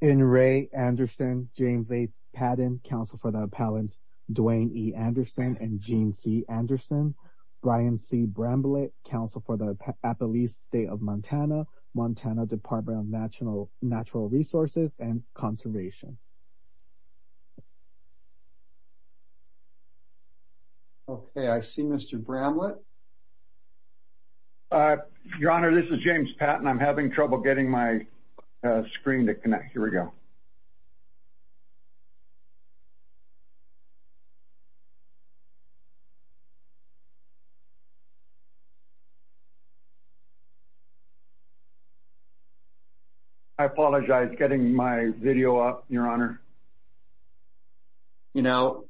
N. Ray Anderson, James A. Patton, counsel for the appellants Duane E. Anderson and Gene C. Anderson, Brian C. Bramlett, counsel for the Appalachian State of Montana, Montana Department of Natural Resources and Conservation. Okay, I see Mr. Bramlett. Your Honor, this is James Patton. I'm having trouble getting my screen to connect. Here we go. I apologize, getting my video up, Your Honor. You know,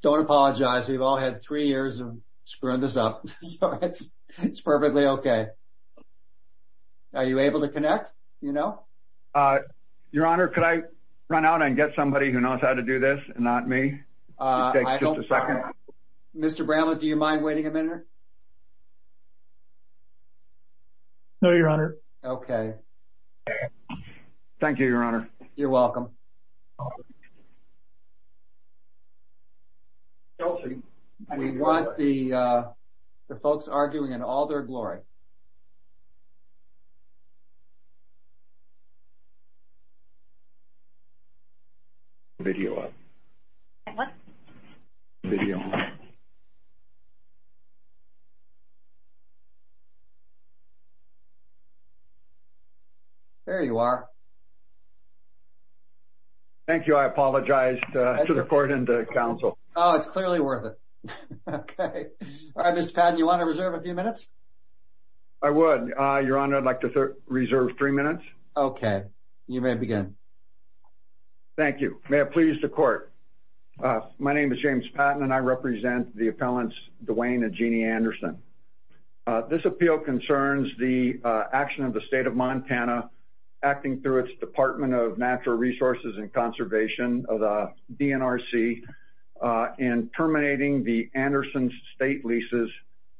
don't apologize. We've all had three years of screwing this up, so it's perfectly okay. Are you able to connect? Your Honor, could I run out and get somebody who knows how to do this and not me? It takes just a second. Mr. Bramlett, do you mind waiting a minute? No, Your Honor. Okay. Thank you, Your Honor. You're welcome. We want the folks arguing in all their glory. Video up. What? Video. There you are. Thank you. I apologize to the court and the counsel. Oh, it's clearly worth it. Okay. All right, Mr. Patton, you want to reserve a few minutes? I would, Your Honor. I'd like to reserve three minutes. Okay. You may begin. Thank you. May it please the court. My name is James Patton, and I represent the appellants Dwayne and Jeannie Anderson. This appeal concerns the action of the State of Montana, acting through its Department of Natural Resources and Conservation, the DNRC, in terminating the Andersons' state leases,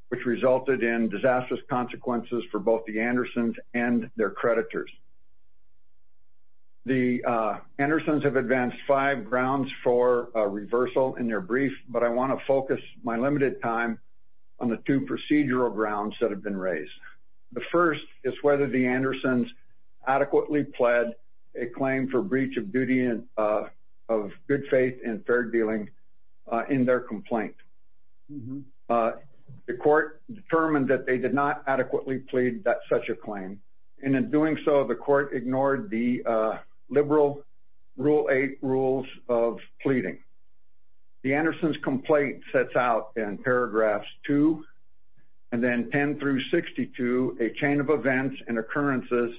which resulted in disastrous consequences for both the Andersons and their creditors. The Andersons have advanced five grounds for reversal in their brief, but I want to focus my limited time on the two procedural grounds that have been raised. The first is whether the Andersons adequately pled a claim for breach of duty of good faith and fair dealing in their complaint. The court determined that they did not adequately plead such a claim, and in doing so, the court ignored the liberal Rule 8 rules of pleading. The Andersons' complaint sets out in paragraphs 2 and then 10 through 62 a chain of events and occurrences,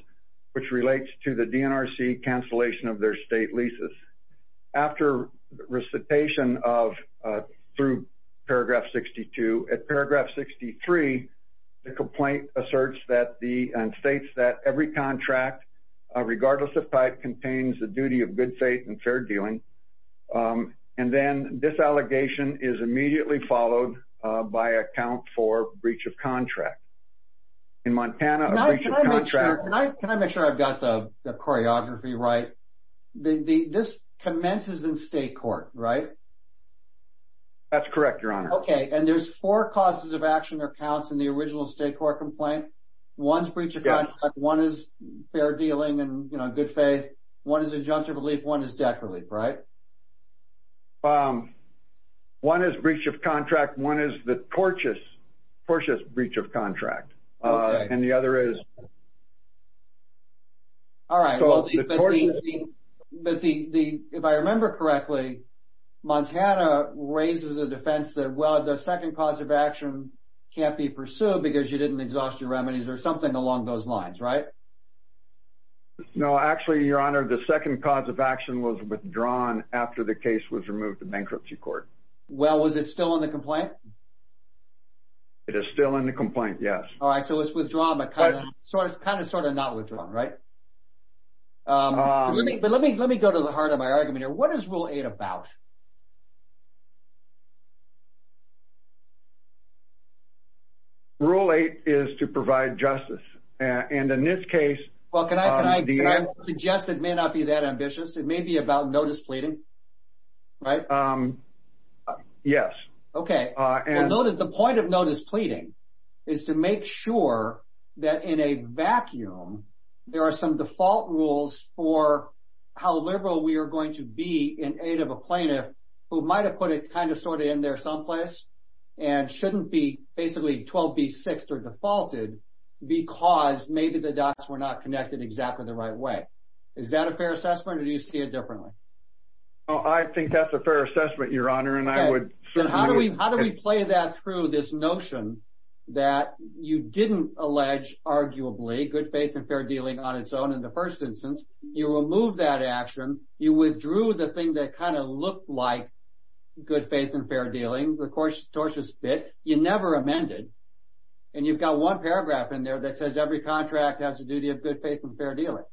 which relates to the DNRC cancellation of their state leases. After recitation through paragraph 62, at paragraph 63, the complaint asserts and states that every contract, regardless of type, contains the duty of good faith and fair dealing. And then this allegation is immediately followed by a count for breach of contract. In Montana, a breach of contract. Can I make sure I've got the choreography right? This commences in state court, right? That's correct, Your Honor. Okay, and there's four causes of action or counts in the original state court complaint? One's breach of contract. One is fair dealing and good faith. One is injunctive relief. One is death relief, right? One is breach of contract. One is the tortious, tortious breach of contract. Okay. And the other is… All right, well, if I remember correctly, Montana raises a defense that, well, the second cause of action can't be pursued because you didn't exhaust your remedies or something along those lines, right? No, actually, Your Honor, the second cause of action was withdrawn after the case was removed to bankruptcy court. Well, is it still in the complaint? It is still in the complaint, yes. All right, so it's withdrawn, but kind of sort of not withdrawn, right? But let me go to the heart of my argument here. What is Rule 8 about? Rule 8 is to provide justice, and in this case… And I would suggest it may not be that ambitious. It may be about notice pleading, right? Yes. Okay. The point of notice pleading is to make sure that in a vacuum, there are some default rules for how liberal we are going to be in aid of a plaintiff who might have put it kind of sort of in there someplace and shouldn't be basically 12B6 or defaulted because maybe the dots were not connected exactly the right way. Is that a fair assessment, or do you see it differently? I think that's a fair assessment, Your Honor, and I would certainly… Then how do we play that through this notion that you didn't allege, arguably, good faith and fair dealing on its own in the first instance? You removed that action. You withdrew the thing that kind of looked like good faith and fair dealing. The tortious bit. You never amended, and you've got one paragraph in there that says, every contract has the duty of good faith and fair dealing.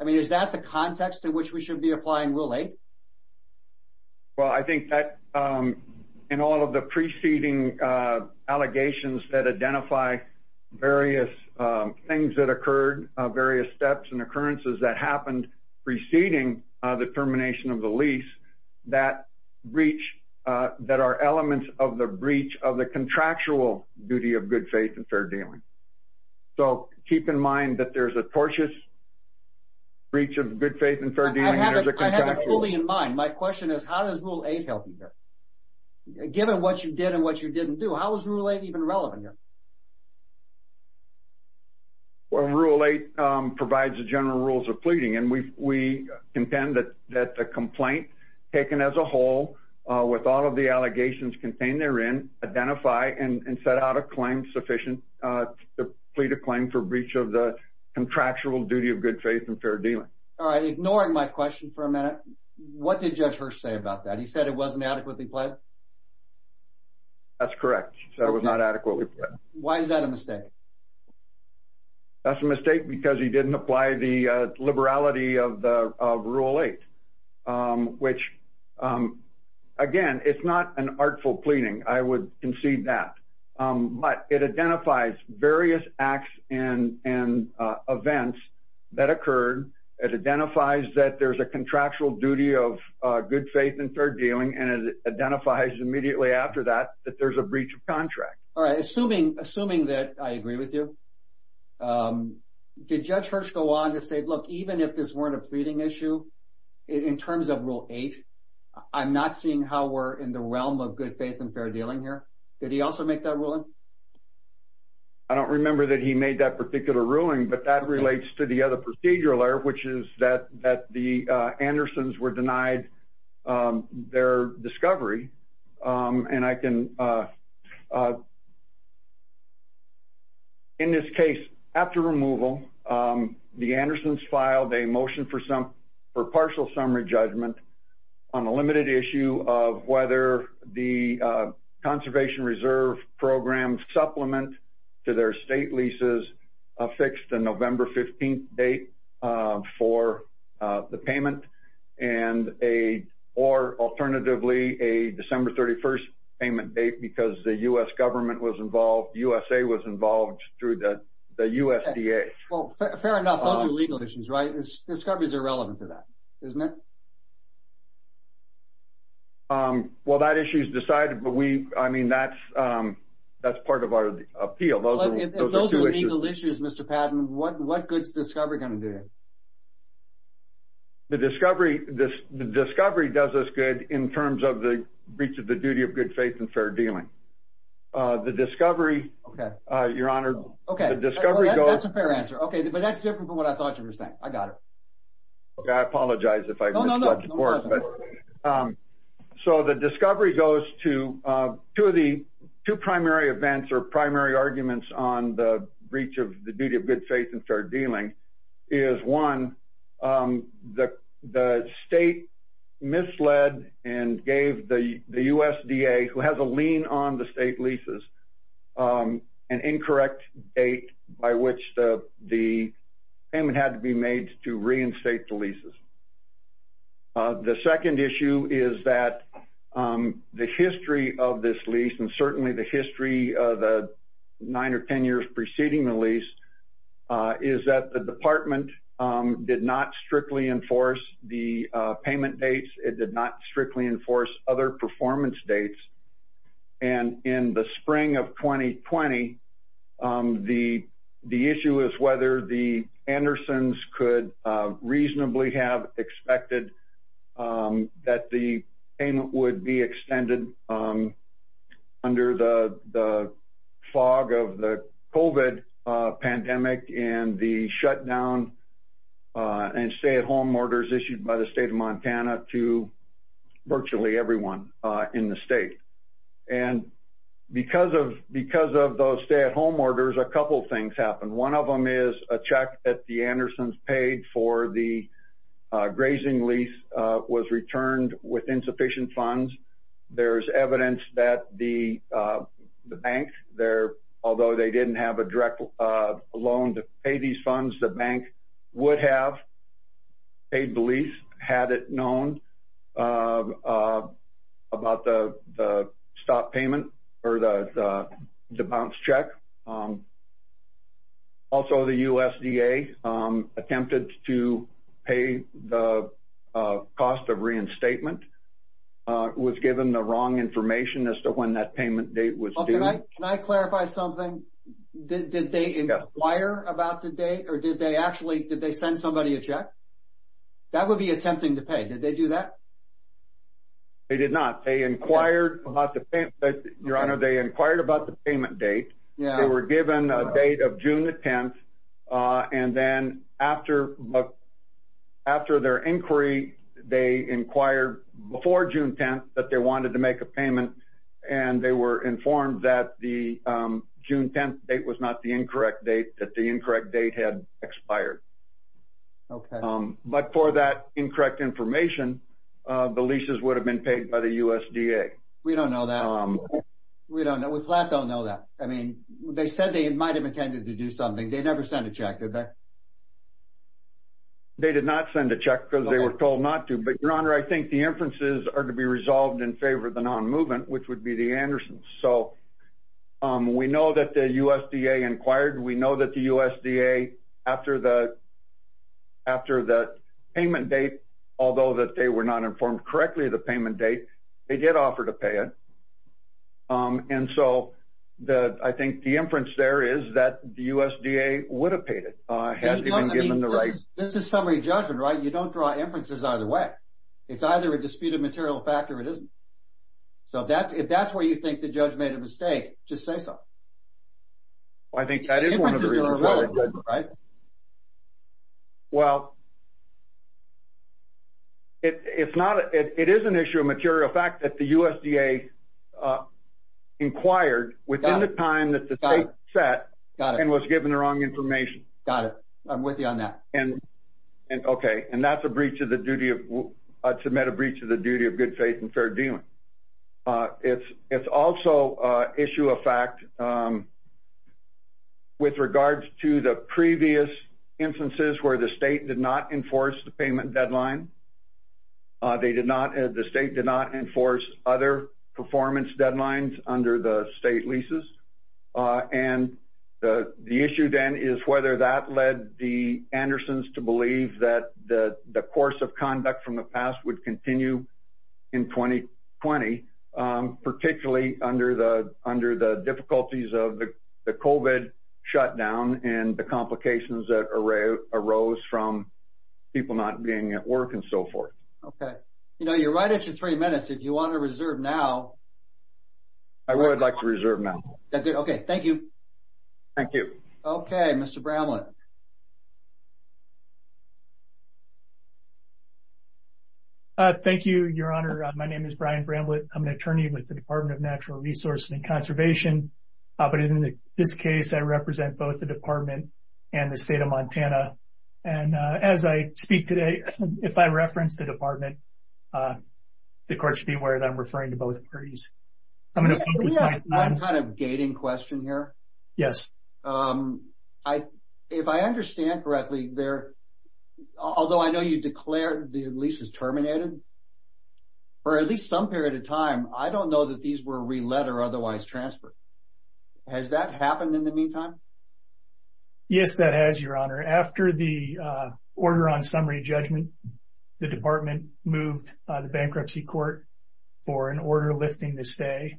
I mean, is that the context in which we should be applying Rule 8? Well, I think that in all of the preceding allegations that identify various things that occurred, various steps and occurrences that happened preceding the termination of the lease, that breach that are elements of the breach of the contractual duty of good faith and fair dealing. So keep in mind that there's a tortious breach of good faith and fair dealing. I have it fully in mind. My question is, how does Rule 8 help you here? Given what you did and what you didn't do, how is Rule 8 even relevant here? Well, Rule 8 provides the general rules of pleading, and we contend that the complaint taken as a whole with all of the allegations contained therein identify and set out a claim sufficient to plead a claim for breach of the contractual duty of good faith and fair dealing. All right. Ignoring my question for a minute, what did Judge Hirsch say about that? He said it wasn't adequately pled? That's correct. That was not adequately pled. Why is that a mistake? That's a mistake because he didn't apply the liberality of Rule 8, which, again, it's not an artful pleading. I would concede that. But it identifies various acts and events that occurred. It identifies that there's a contractual duty of good faith and fair dealing, and it identifies immediately after that that there's a breach of contract. All right. Assuming that I agree with you, did Judge Hirsch go on to say, look, even if this weren't a pleading issue, in terms of Rule 8, I'm not seeing how we're in the realm of good faith and fair dealing here. Did he also make that ruling? I don't remember that he made that particular ruling, but that relates to the other procedural error, which is that the Andersons were denied their discovery. And I can, in this case, after removal, the Andersons filed a motion for partial summary judgment on a limited issue of whether the Conservation Reserve Program supplement to their state leases affixed a November 15th date for the payment or, alternatively, a December 31st payment date because the U.S. government was involved, USA was involved through the USDA. Well, fair enough. Those are legal issues, right? Discovery is irrelevant to that, isn't it? Well, that issue is decided, but, I mean, that's part of our appeal. If those are legal issues, Mr. Patton, what good is discovery going to do here? The discovery does us good in terms of the breach of the duty of good faith and fair dealing. The discovery, Your Honor. Okay. That's a fair answer. Okay. But that's different from what I thought you were saying. I got it. Okay. I apologize if I misled the Court. No, no, no. So the discovery goes to two primary events or primary arguments on the breach of the duty of good faith and fair dealing is, one, the state misled and gave the USDA, who has a lien on the state leases, an incorrect date by which the payment had to be made to reinstate the leases. The second issue is that the history of this lease, and certainly the history of the nine or ten years preceding the lease, is that the Department did not strictly enforce the payment dates. It did not strictly enforce other performance dates. And in the spring of 2020, the issue is whether the Andersons could reasonably have expected that the payment would be extended under the fog of the COVID pandemic and the shutdown and stay-at-home orders issued by the State of Montana to virtually everyone in the state. And because of those stay-at-home orders, a couple things happened. One of them is a check that the Andersons paid for the grazing lease was returned with insufficient funds. There is evidence that the bank, although they didn't have a direct loan to pay these funds, the bank would have paid the lease had it known about the stop payment or the bounce check. Also, the USDA attempted to pay the cost of reinstatement. It was given the wrong information as to when that payment date was due. Can I clarify something? Did they inquire about the date, or did they actually send somebody a check? That would be attempting to pay. Did they do that? They did not. They inquired about the payment date. They were given a date of June the 10th, and then after their inquiry, they inquired before June 10th that they wanted to make a payment, and they were informed that the June 10th date was not the incorrect date, that the incorrect date had expired. Okay. But for that incorrect information, the leases would have been paid by the USDA. We don't know that. We flat don't know that. I mean, they said they might have intended to do something. They never sent a check, did they? They did not send a check because they were told not to. But, Your Honor, I think the inferences are to be resolved in favor of the non-movement, which would be the Andersons. So we know that the USDA inquired. We know that the USDA, after the payment date, although that they were not informed correctly of the payment date, they did offer to pay it. And so I think the inference there is that the USDA would have paid it, had they been given the right. This is summary judgment, right? You don't draw inferences either way. It's either a disputed material fact or it isn't. So if that's where you think the judge made a mistake, just say so. Well, I think that is one of the reasons, right? Well, it is an issue of material fact that the USDA inquired within the time that the date set and was given the wrong information. Got it. I'm with you on that. Okay. And that's a breach of the duty of good faith and fair dealing. It's also issue of fact with regards to the previous instances where the state did not enforce the payment deadline. The state did not enforce other performance deadlines under the state leases. And the issue then is whether that led the Andersons to believe that the course of conduct from the past would continue in 2020, particularly under the difficulties of the COVID shutdown and the complications that arose from people not being at work and so forth. Okay. You know, you're right at your three minutes. If you want to reserve now. I would like to reserve now. Okay. Thank you. Thank you. Okay. Mr. Bramlett. Thank you, Your Honor. My name is Brian Bramlett. I'm an attorney with the Department of Natural Resources and Conservation. But in this case, I represent both the department and the state of Montana. And as I speak today, if I reference the department, the court should be aware that I'm referring to both parties. I'm going to focus my time. Can I ask one kind of gating question here? Yes. If I understand correctly, although I know you declared the lease is terminated, for at least some period of time, I don't know that these were re-led or otherwise transferred. Has that happened in the meantime? Yes, that has, Your Honor. After the order on summary judgment, the department moved the bankruptcy court for an order lifting this day,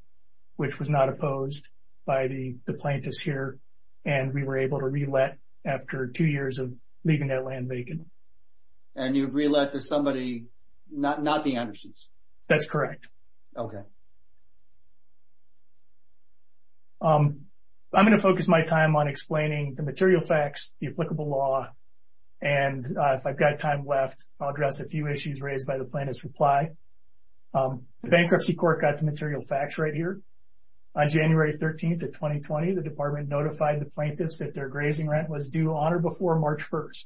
which was not opposed by the plaintiffs here. And we were able to re-let after two years of leaving that land vacant. And you re-let to somebody, not the Anderson's? That's correct. Okay. I'm going to focus my time on explaining the material facts, the applicable law, and if I've got time left, I'll address a few issues raised by the plaintiff's reply. The bankruptcy court got the material facts right here. On January 13th of 2020, the department notified the plaintiffs that their grazing rent was due on or before March 1st.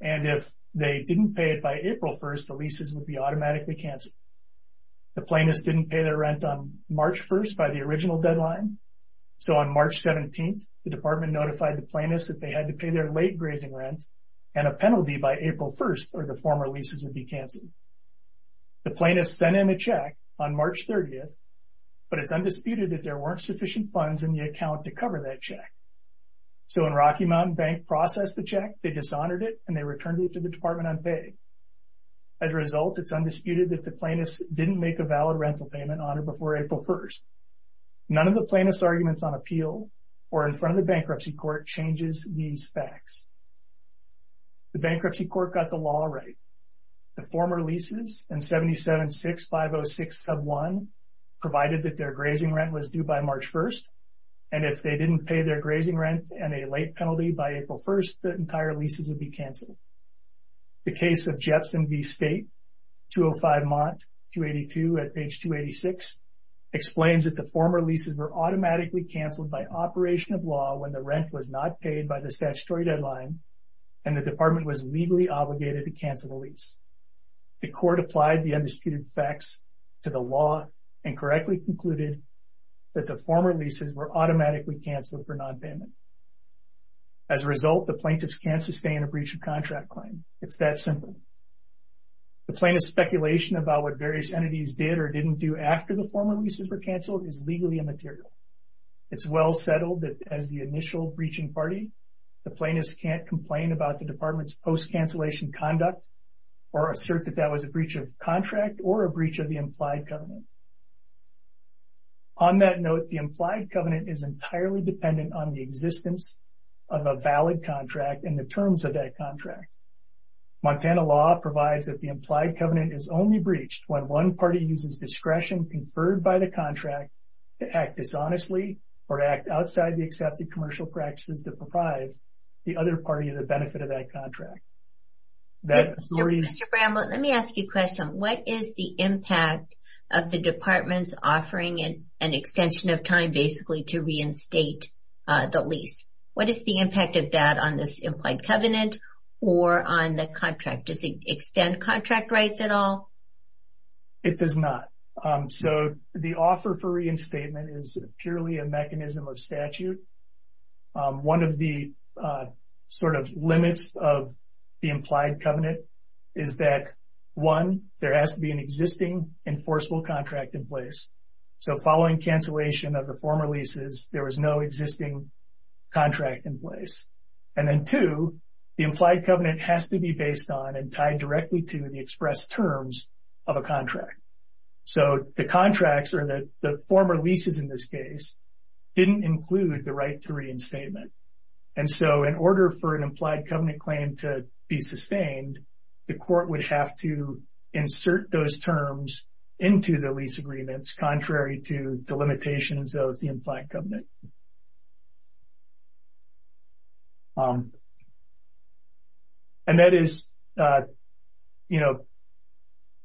And if they didn't pay it by April 1st, the leases would be automatically canceled. The plaintiffs didn't pay their rent on March 1st by the original deadline. So on March 17th, the department notified the plaintiffs that they had to pay their late grazing rent and a penalty by April 1st, or the former leases would be canceled. The plaintiffs sent in a check on March 30th, but it's undisputed that there weren't sufficient funds in the account to cover that check. So when Rocky Mountain Bank processed the check, they dishonored it, and they returned it to the department unpaid. As a result, it's undisputed that the plaintiffs didn't make a valid rental payment on or before April 1st. None of the plaintiffs' arguments on appeal or in front of the bankruptcy court changes these facts. The bankruptcy court got the law right. The former leases and 776-506-1 provided that their grazing rent was due by March 1st. And if they didn't pay their grazing rent and a late penalty by April 1st, the entire leases would be canceled. The case of Jepson v. State, 205 Mont, 282 at page 286, explains that the former leases were automatically canceled by operation of law when the rent was not paid by the statutory deadline and the department was legally obligated to cancel the lease. The court applied the undisputed facts to the law and correctly concluded that the former leases were automatically canceled for nonpayment. As a result, the plaintiffs can't sustain a breach of contract claim. It's that simple. The plaintiff's speculation about what various entities did or didn't do after the former leases were canceled is legally immaterial. It's well settled that as the initial breaching party, the plaintiffs can't complain about the department's post-cancellation conduct or assert that that was a breach of contract or a breach of the implied covenant. On that note, the implied covenant is entirely dependent on the existence of a valid contract and the terms of that contract. Montana law provides that the implied covenant is only breached when one party uses discretion conferred by the contract to act dishonestly or act outside the accepted commercial practices to provide the other party the benefit of that contract. Mr. Bramlett, let me ask you a question. What is the impact of the department's offering an extension of time basically to reinstate the lease? What is the impact of that on this implied covenant or on the contract? Does it extend contract rights at all? It does not. So the offer for reinstatement is purely a mechanism of statute. One of the sort of limits of the implied covenant is that, one, there has to be an existing enforceable contract in place. So following cancellation of the former leases, there was no existing contract in place. And then, two, the implied covenant has to be based on and tied directly to the express terms of a contract. So the contracts, or the former leases in this case, didn't include the right to reinstatement. And so in order for an implied covenant claim to be sustained, the court would have to insert those terms into the lease agreements, contrary to the limitations of the implied covenant. And that is, you know,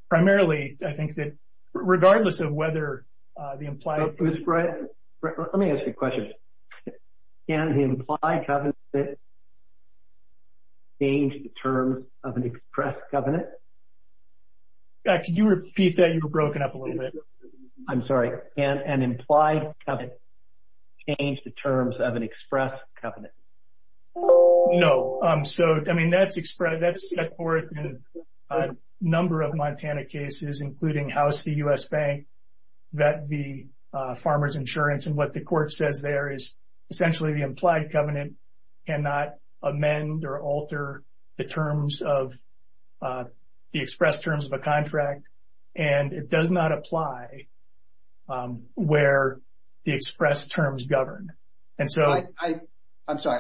primarily I think that regardless of whether the implied Let me ask you a question. Can the implied covenant change the terms of an express covenant? Could you repeat that? You were broken up a little bit. Can an implied covenant change the terms of an express covenant? Can an implied covenant change the terms of an express covenant? No. So, I mean, that's set forth in a number of Montana cases, including House v. U.S. Bank, that v. Farmers Insurance. And what the court says there is essentially the implied covenant cannot amend or alter the terms of the express terms of a contract. And it does not apply where the express terms govern. I'm sorry.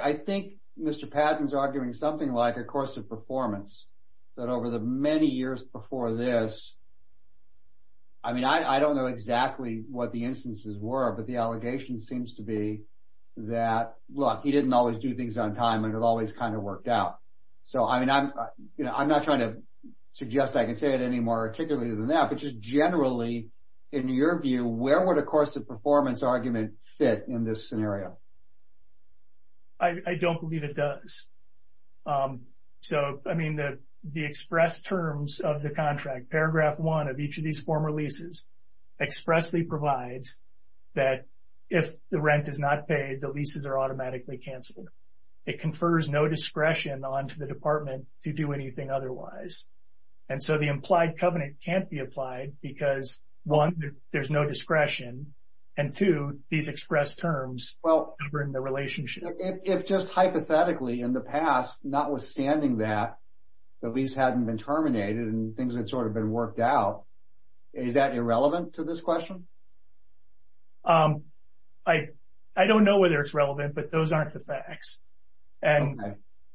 I think Mr. Patton is arguing something like a course of performance, that over the many years before this, I mean, I don't know exactly what the instances were, but the allegation seems to be that, look, he didn't always do things on time and it always kind of worked out. So, I mean, I'm not trying to suggest I can say it any more articulately than that, but just generally, in your view, where would a course of performance argument fit in this scenario? I don't believe it does. So, I mean, the express terms of the contract, paragraph one of each of these former leases, expressly provides that if the rent is not paid, the leases are automatically canceled. It confers no discretion onto the department to do anything otherwise. And so the implied covenant can't be applied because, one, there's no discretion, and two, these express terms govern the relationship. If just hypothetically in the past, notwithstanding that, the lease hadn't been terminated and things had sort of been worked out, is that irrelevant to this question? I don't know whether it's relevant, but those aren't the facts. And,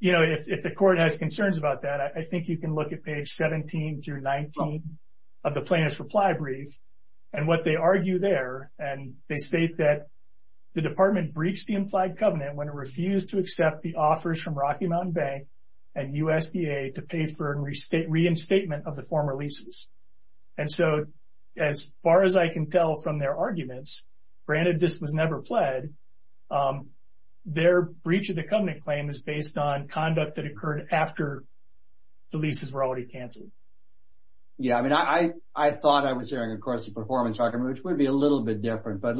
you know, if the court has concerns about that, I think you can look at page 17 through 19 of the plaintiff's reply brief and what they argue there, and they state that the department breached the implied covenant when it refused to accept the offers from Rocky Mountain Bank and USDA to pay for reinstatement of the former leases. And so as far as I can tell from their arguments, granted this was never pled, their breach of the covenant claim is based on conduct that occurred after the leases were already canceled. Yeah, I mean, I thought I was hearing, of course, the performance argument, which would be a little bit different, but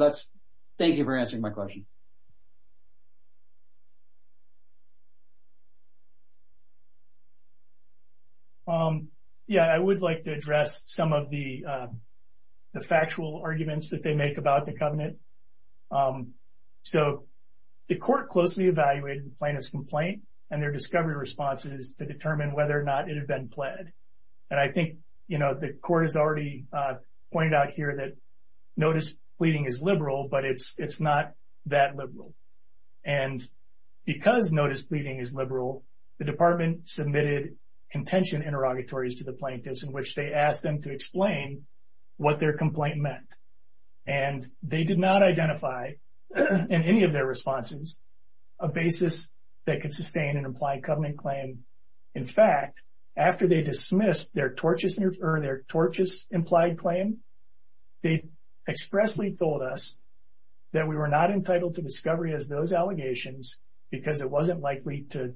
thank you for answering my question. Yeah, I would like to address some of the factual arguments that they make about the covenant. So the court closely evaluated the plaintiff's complaint and their discovery responses to determine whether or not it had been pled. And I think, you know, the court has already pointed out here that notice pleading is liberal, but it's not that the plaintiff has pleaded. And because notice pleading is liberal, the department submitted contention interrogatories to the plaintiffs in which they asked them to explain what their complaint meant. And they did not identify in any of their responses a basis that could sustain an implied covenant claim. In fact, after they dismissed their tortious implied claim, they expressly told us that we were not entitled to discovery as those allegations because it wasn't likely to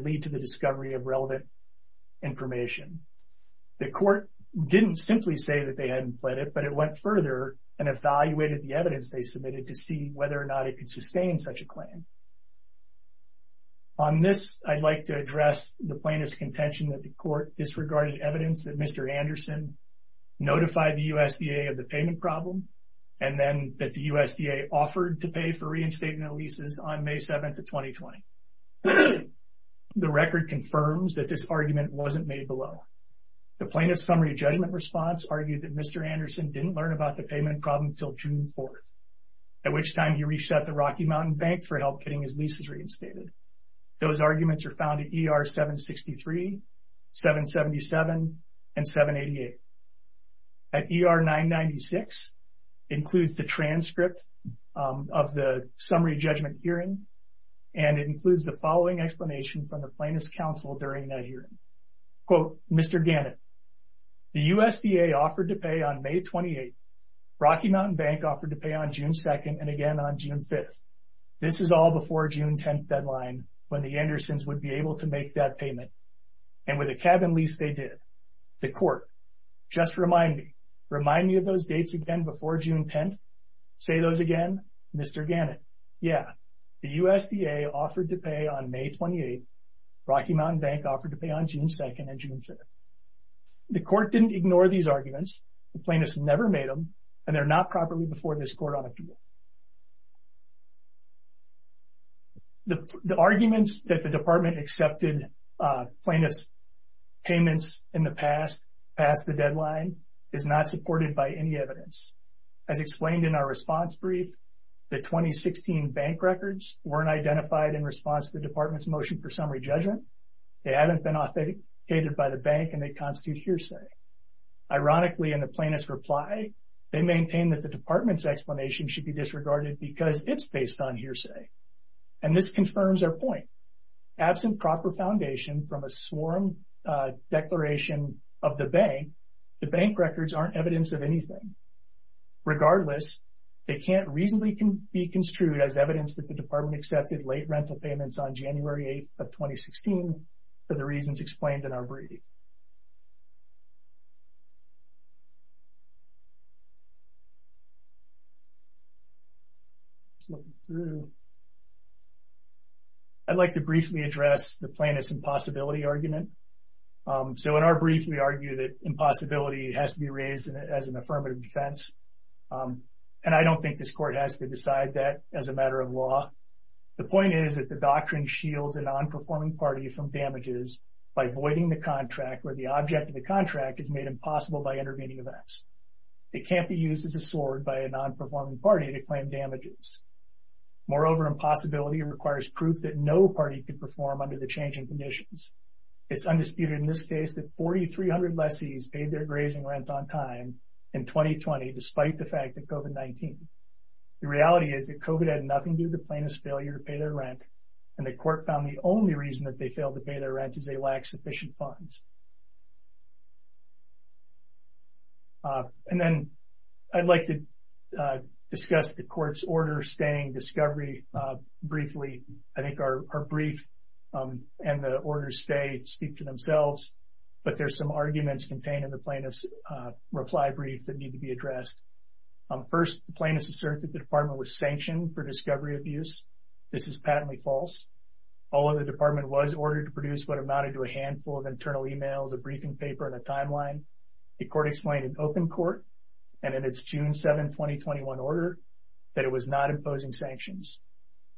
lead to the discovery of relevant information. The court didn't simply say that they hadn't pled it, but it went further and evaluated the evidence they submitted to see whether or not it could sustain such a claim. On this, I'd like to address the plaintiff's contention that the court disregarded evidence that Mr. Anderson notified the USDA of the payment problem and then that the USDA offered to pay for reinstating the leases on May 7th of 2020. The record confirms that this argument wasn't made below. The plaintiff's summary judgment response argued that Mr. Anderson didn't learn about the payment problem until June 4th, at which time he reached out to Rocky Mountain Bank for help getting his leases reinstated. Those arguments are found at ER 763, 777, and 788. At ER 996 includes the transcript of the summary judgment hearing and it includes the following explanation from the plaintiff's counsel during that hearing. Quote, Mr. Gannett, the USDA offered to pay on May 28th. Rocky Mountain Bank offered to pay on June 2nd and again on June 5th. This is all before June 10th deadline when the Andersons would be able to make that payment and with a cabin lease they did. The court, just remind me, remind me of those dates again before June 10th. Say those again, Mr. Gannett. Yeah, the USDA offered to pay on May 28th. Rocky Mountain Bank offered to pay on June 2nd and June 5th. The court didn't ignore these arguments. The plaintiff's never made them and they're not properly before this court on appeal. The arguments that the department accepted plaintiff's payments in the past past the deadline is not supported by any evidence. As explained in our response brief, the 2016 bank records weren't identified in response to the department's motion for summary judgment. They haven't been authenticated by the bank and they constitute hearsay. Ironically, in the plaintiff's reply, they maintain that the department's explanation should be disregarded because it's based on hearsay. And this confirms our point. Absent proper foundation from a sworn declaration of the bank, the bank records aren't evidence of anything. Regardless, they can't reasonably be construed as evidence that the department accepted late rental payments on January 8th of 2016 for the reasons explained in our brief. I'd like to briefly address the plaintiff's impossibility argument. So in our brief, we argue that impossibility has to be raised as an affirmative defense. And I don't think this court has to decide that as a matter of law. The point is that the doctrine shields a non-performing party from damages by voiding the contract where the object of the contract is made impossible by intervening events. It can't be used as a sword by a non-performing party to claim damages. Moreover, impossibility requires proof that no party could perform under the changing conditions. It's undisputed in this case that 4,300 lessees paid their grazing rent on time in 2020 despite the fact that COVID-19. The reality is that COVID had nothing to do with the plaintiff's failure to pay their rent, and the court found the only reason that they failed to pay their rent is they lacked sufficient funds. And then I'd like to discuss the court's order staying discovery briefly. I think our brief and the order stay speak for themselves, but there's some arguments contained in the plaintiff's reply brief that need to be addressed. First, the plaintiff asserts that the department was sanctioned for discovery abuse. This is patently false. Although the department was ordered to produce what amounted to a handful of internal emails, a briefing paper, and a timeline, the court explained in open court and in its June 7, 2021 order that it was not imposing sanctions.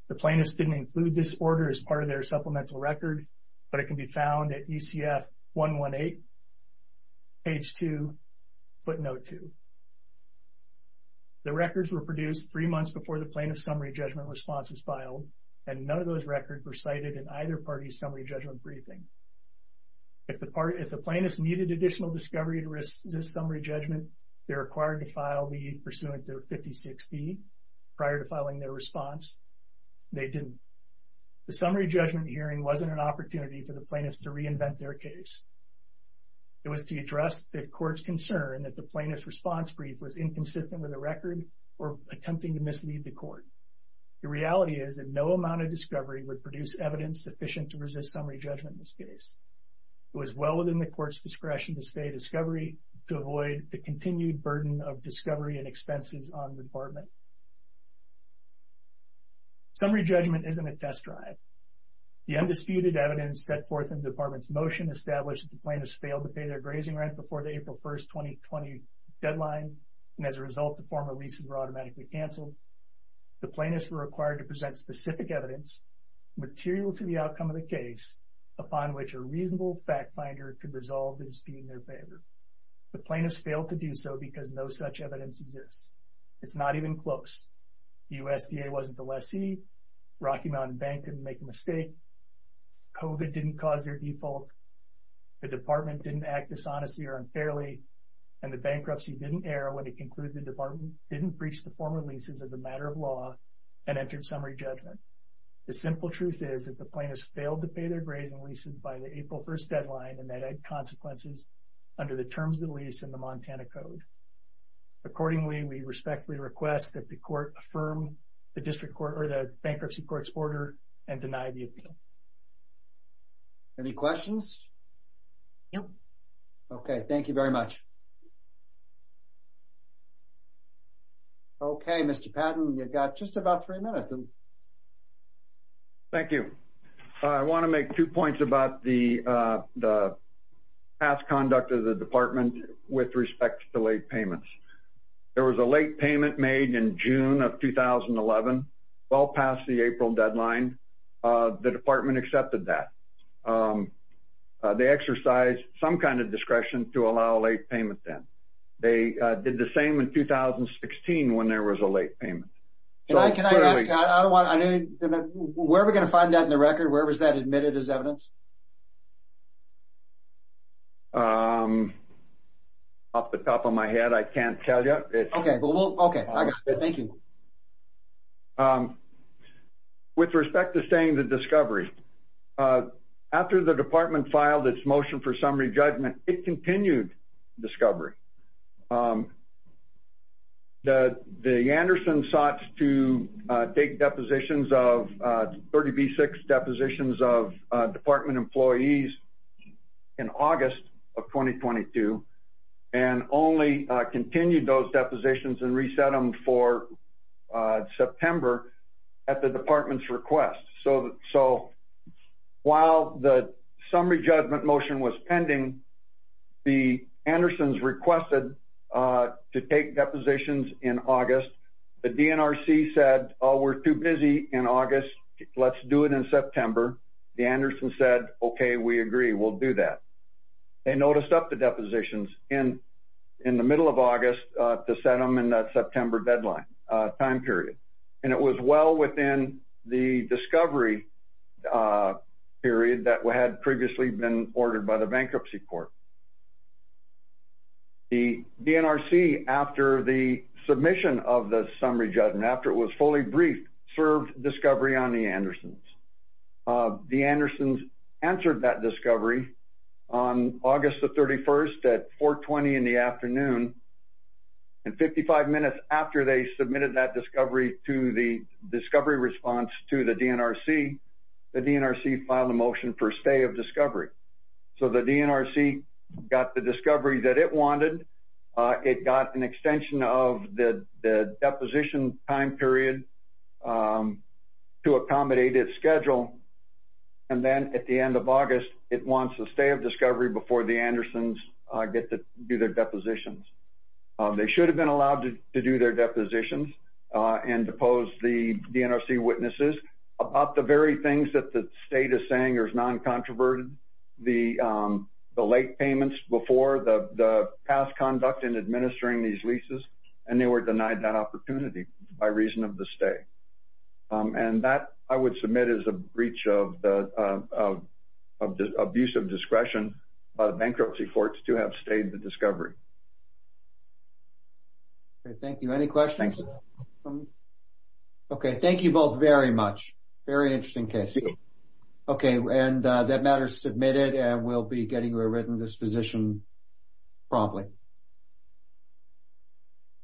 The plaintiffs didn't include this order as part of their supplemental record, but it can be found at ECF 118, page 2, footnote 2. The records were produced three months before the plaintiff's summary judgment response was filed, and none of those records were cited in either party's summary judgment briefing. If the plaintiffs needed additional discovery to resist summary judgment, they're required to file the pursuant to 56B prior to filing their response. They didn't. The summary judgment hearing wasn't an opportunity for the plaintiffs to reinvent their case. It was to address the court's concern that the plaintiff's response brief was inconsistent with the record or attempting to mislead the court. The reality is that no amount of discovery would produce evidence sufficient to resist summary judgment in this case. It was well within the court's discretion to stay discovery to avoid the continued burden of discovery and expenses on the department. Summary judgment isn't a test drive. The undisputed evidence set forth in the department's motion established that the plaintiffs failed to pay their grazing rent before the April 1, 2020 deadline, and as a result, the former leases were automatically canceled. The plaintiffs were required to present specific evidence material to the outcome of the case upon which a reasonable fact finder could resolve in speeding their favor. The plaintiffs failed to do so because no such evidence exists. It's not even close. The USDA wasn't the lessee. Rocky Mountain Bank didn't make a mistake. COVID didn't cause their default. The department didn't act dishonestly or unfairly, and the bankruptcy didn't air when it concluded the department didn't breach the former leases as a matter of law and entered summary judgment. The simple truth is that the plaintiffs failed to pay their grazing leases by the April 1 deadline, and that had consequences under the terms of the lease and the Montana Code. Accordingly, we respectfully request that the court affirm the bankruptcy court's order and deny the appeal. Any questions? No. Okay. Thank you very much. Okay. Mr. Patton, you've got just about three minutes. Thank you. I want to make two points about the past conduct of the department with respect to late payments. There was a late payment made in June of 2011, well past the April deadline. The department accepted that. They exercised some kind of discretion to allow a late payment then. They did the same in 2016 when there was a late payment. Can I ask, where are we going to find that in the record? Where was that admitted as evidence? Off the top of my head, I can't tell you. Okay. I got it. Thank you. With respect to staying to discovery, after the department filed its motion for summary judgment, it continued discovery. The Anderson sought to take depositions of 30B6, depositions of department employees in August of 2022, and only continued those depositions and reset them for September at the department's request. So while the summary judgment motion was pending, the Andersons requested to take depositions in August. The DNRC said, oh, we're too busy in August. Let's do it in September. The Andersons said, okay, we agree. We'll do that. They noticed up the depositions in the middle of August to set them in that September deadline, time period. And it was well within the discovery period that had previously been ordered by the bankruptcy court. The DNRC, after the submission of the summary judgment, after it was fully briefed, served discovery on the Andersons. The Andersons answered that discovery on August the 31st at 420 in the afternoon. And 55 minutes after they submitted that discovery to the discovery response to the DNRC, the DNRC filed a motion for stay of discovery. So the DNRC got the discovery that it wanted. It got an extension of the deposition time period to accommodate its schedule. And then at the end of August, it wants a stay of discovery before the Andersons get to do their depositions. They should have been allowed to do their depositions and depose the DNRC witnesses about the very things that the state is saying are non-controverted, the late payments before, the past conduct in administering these leases, and they were denied that opportunity by reason of the stay. And that I would submit as a breach of the abuse of discretion by the bankruptcy courts to have stayed the discovery. Okay, thank you. Any questions? Okay. Thank you both very much. Very interesting case. Okay. And that matter is submitted and we'll be getting a written disposition promptly.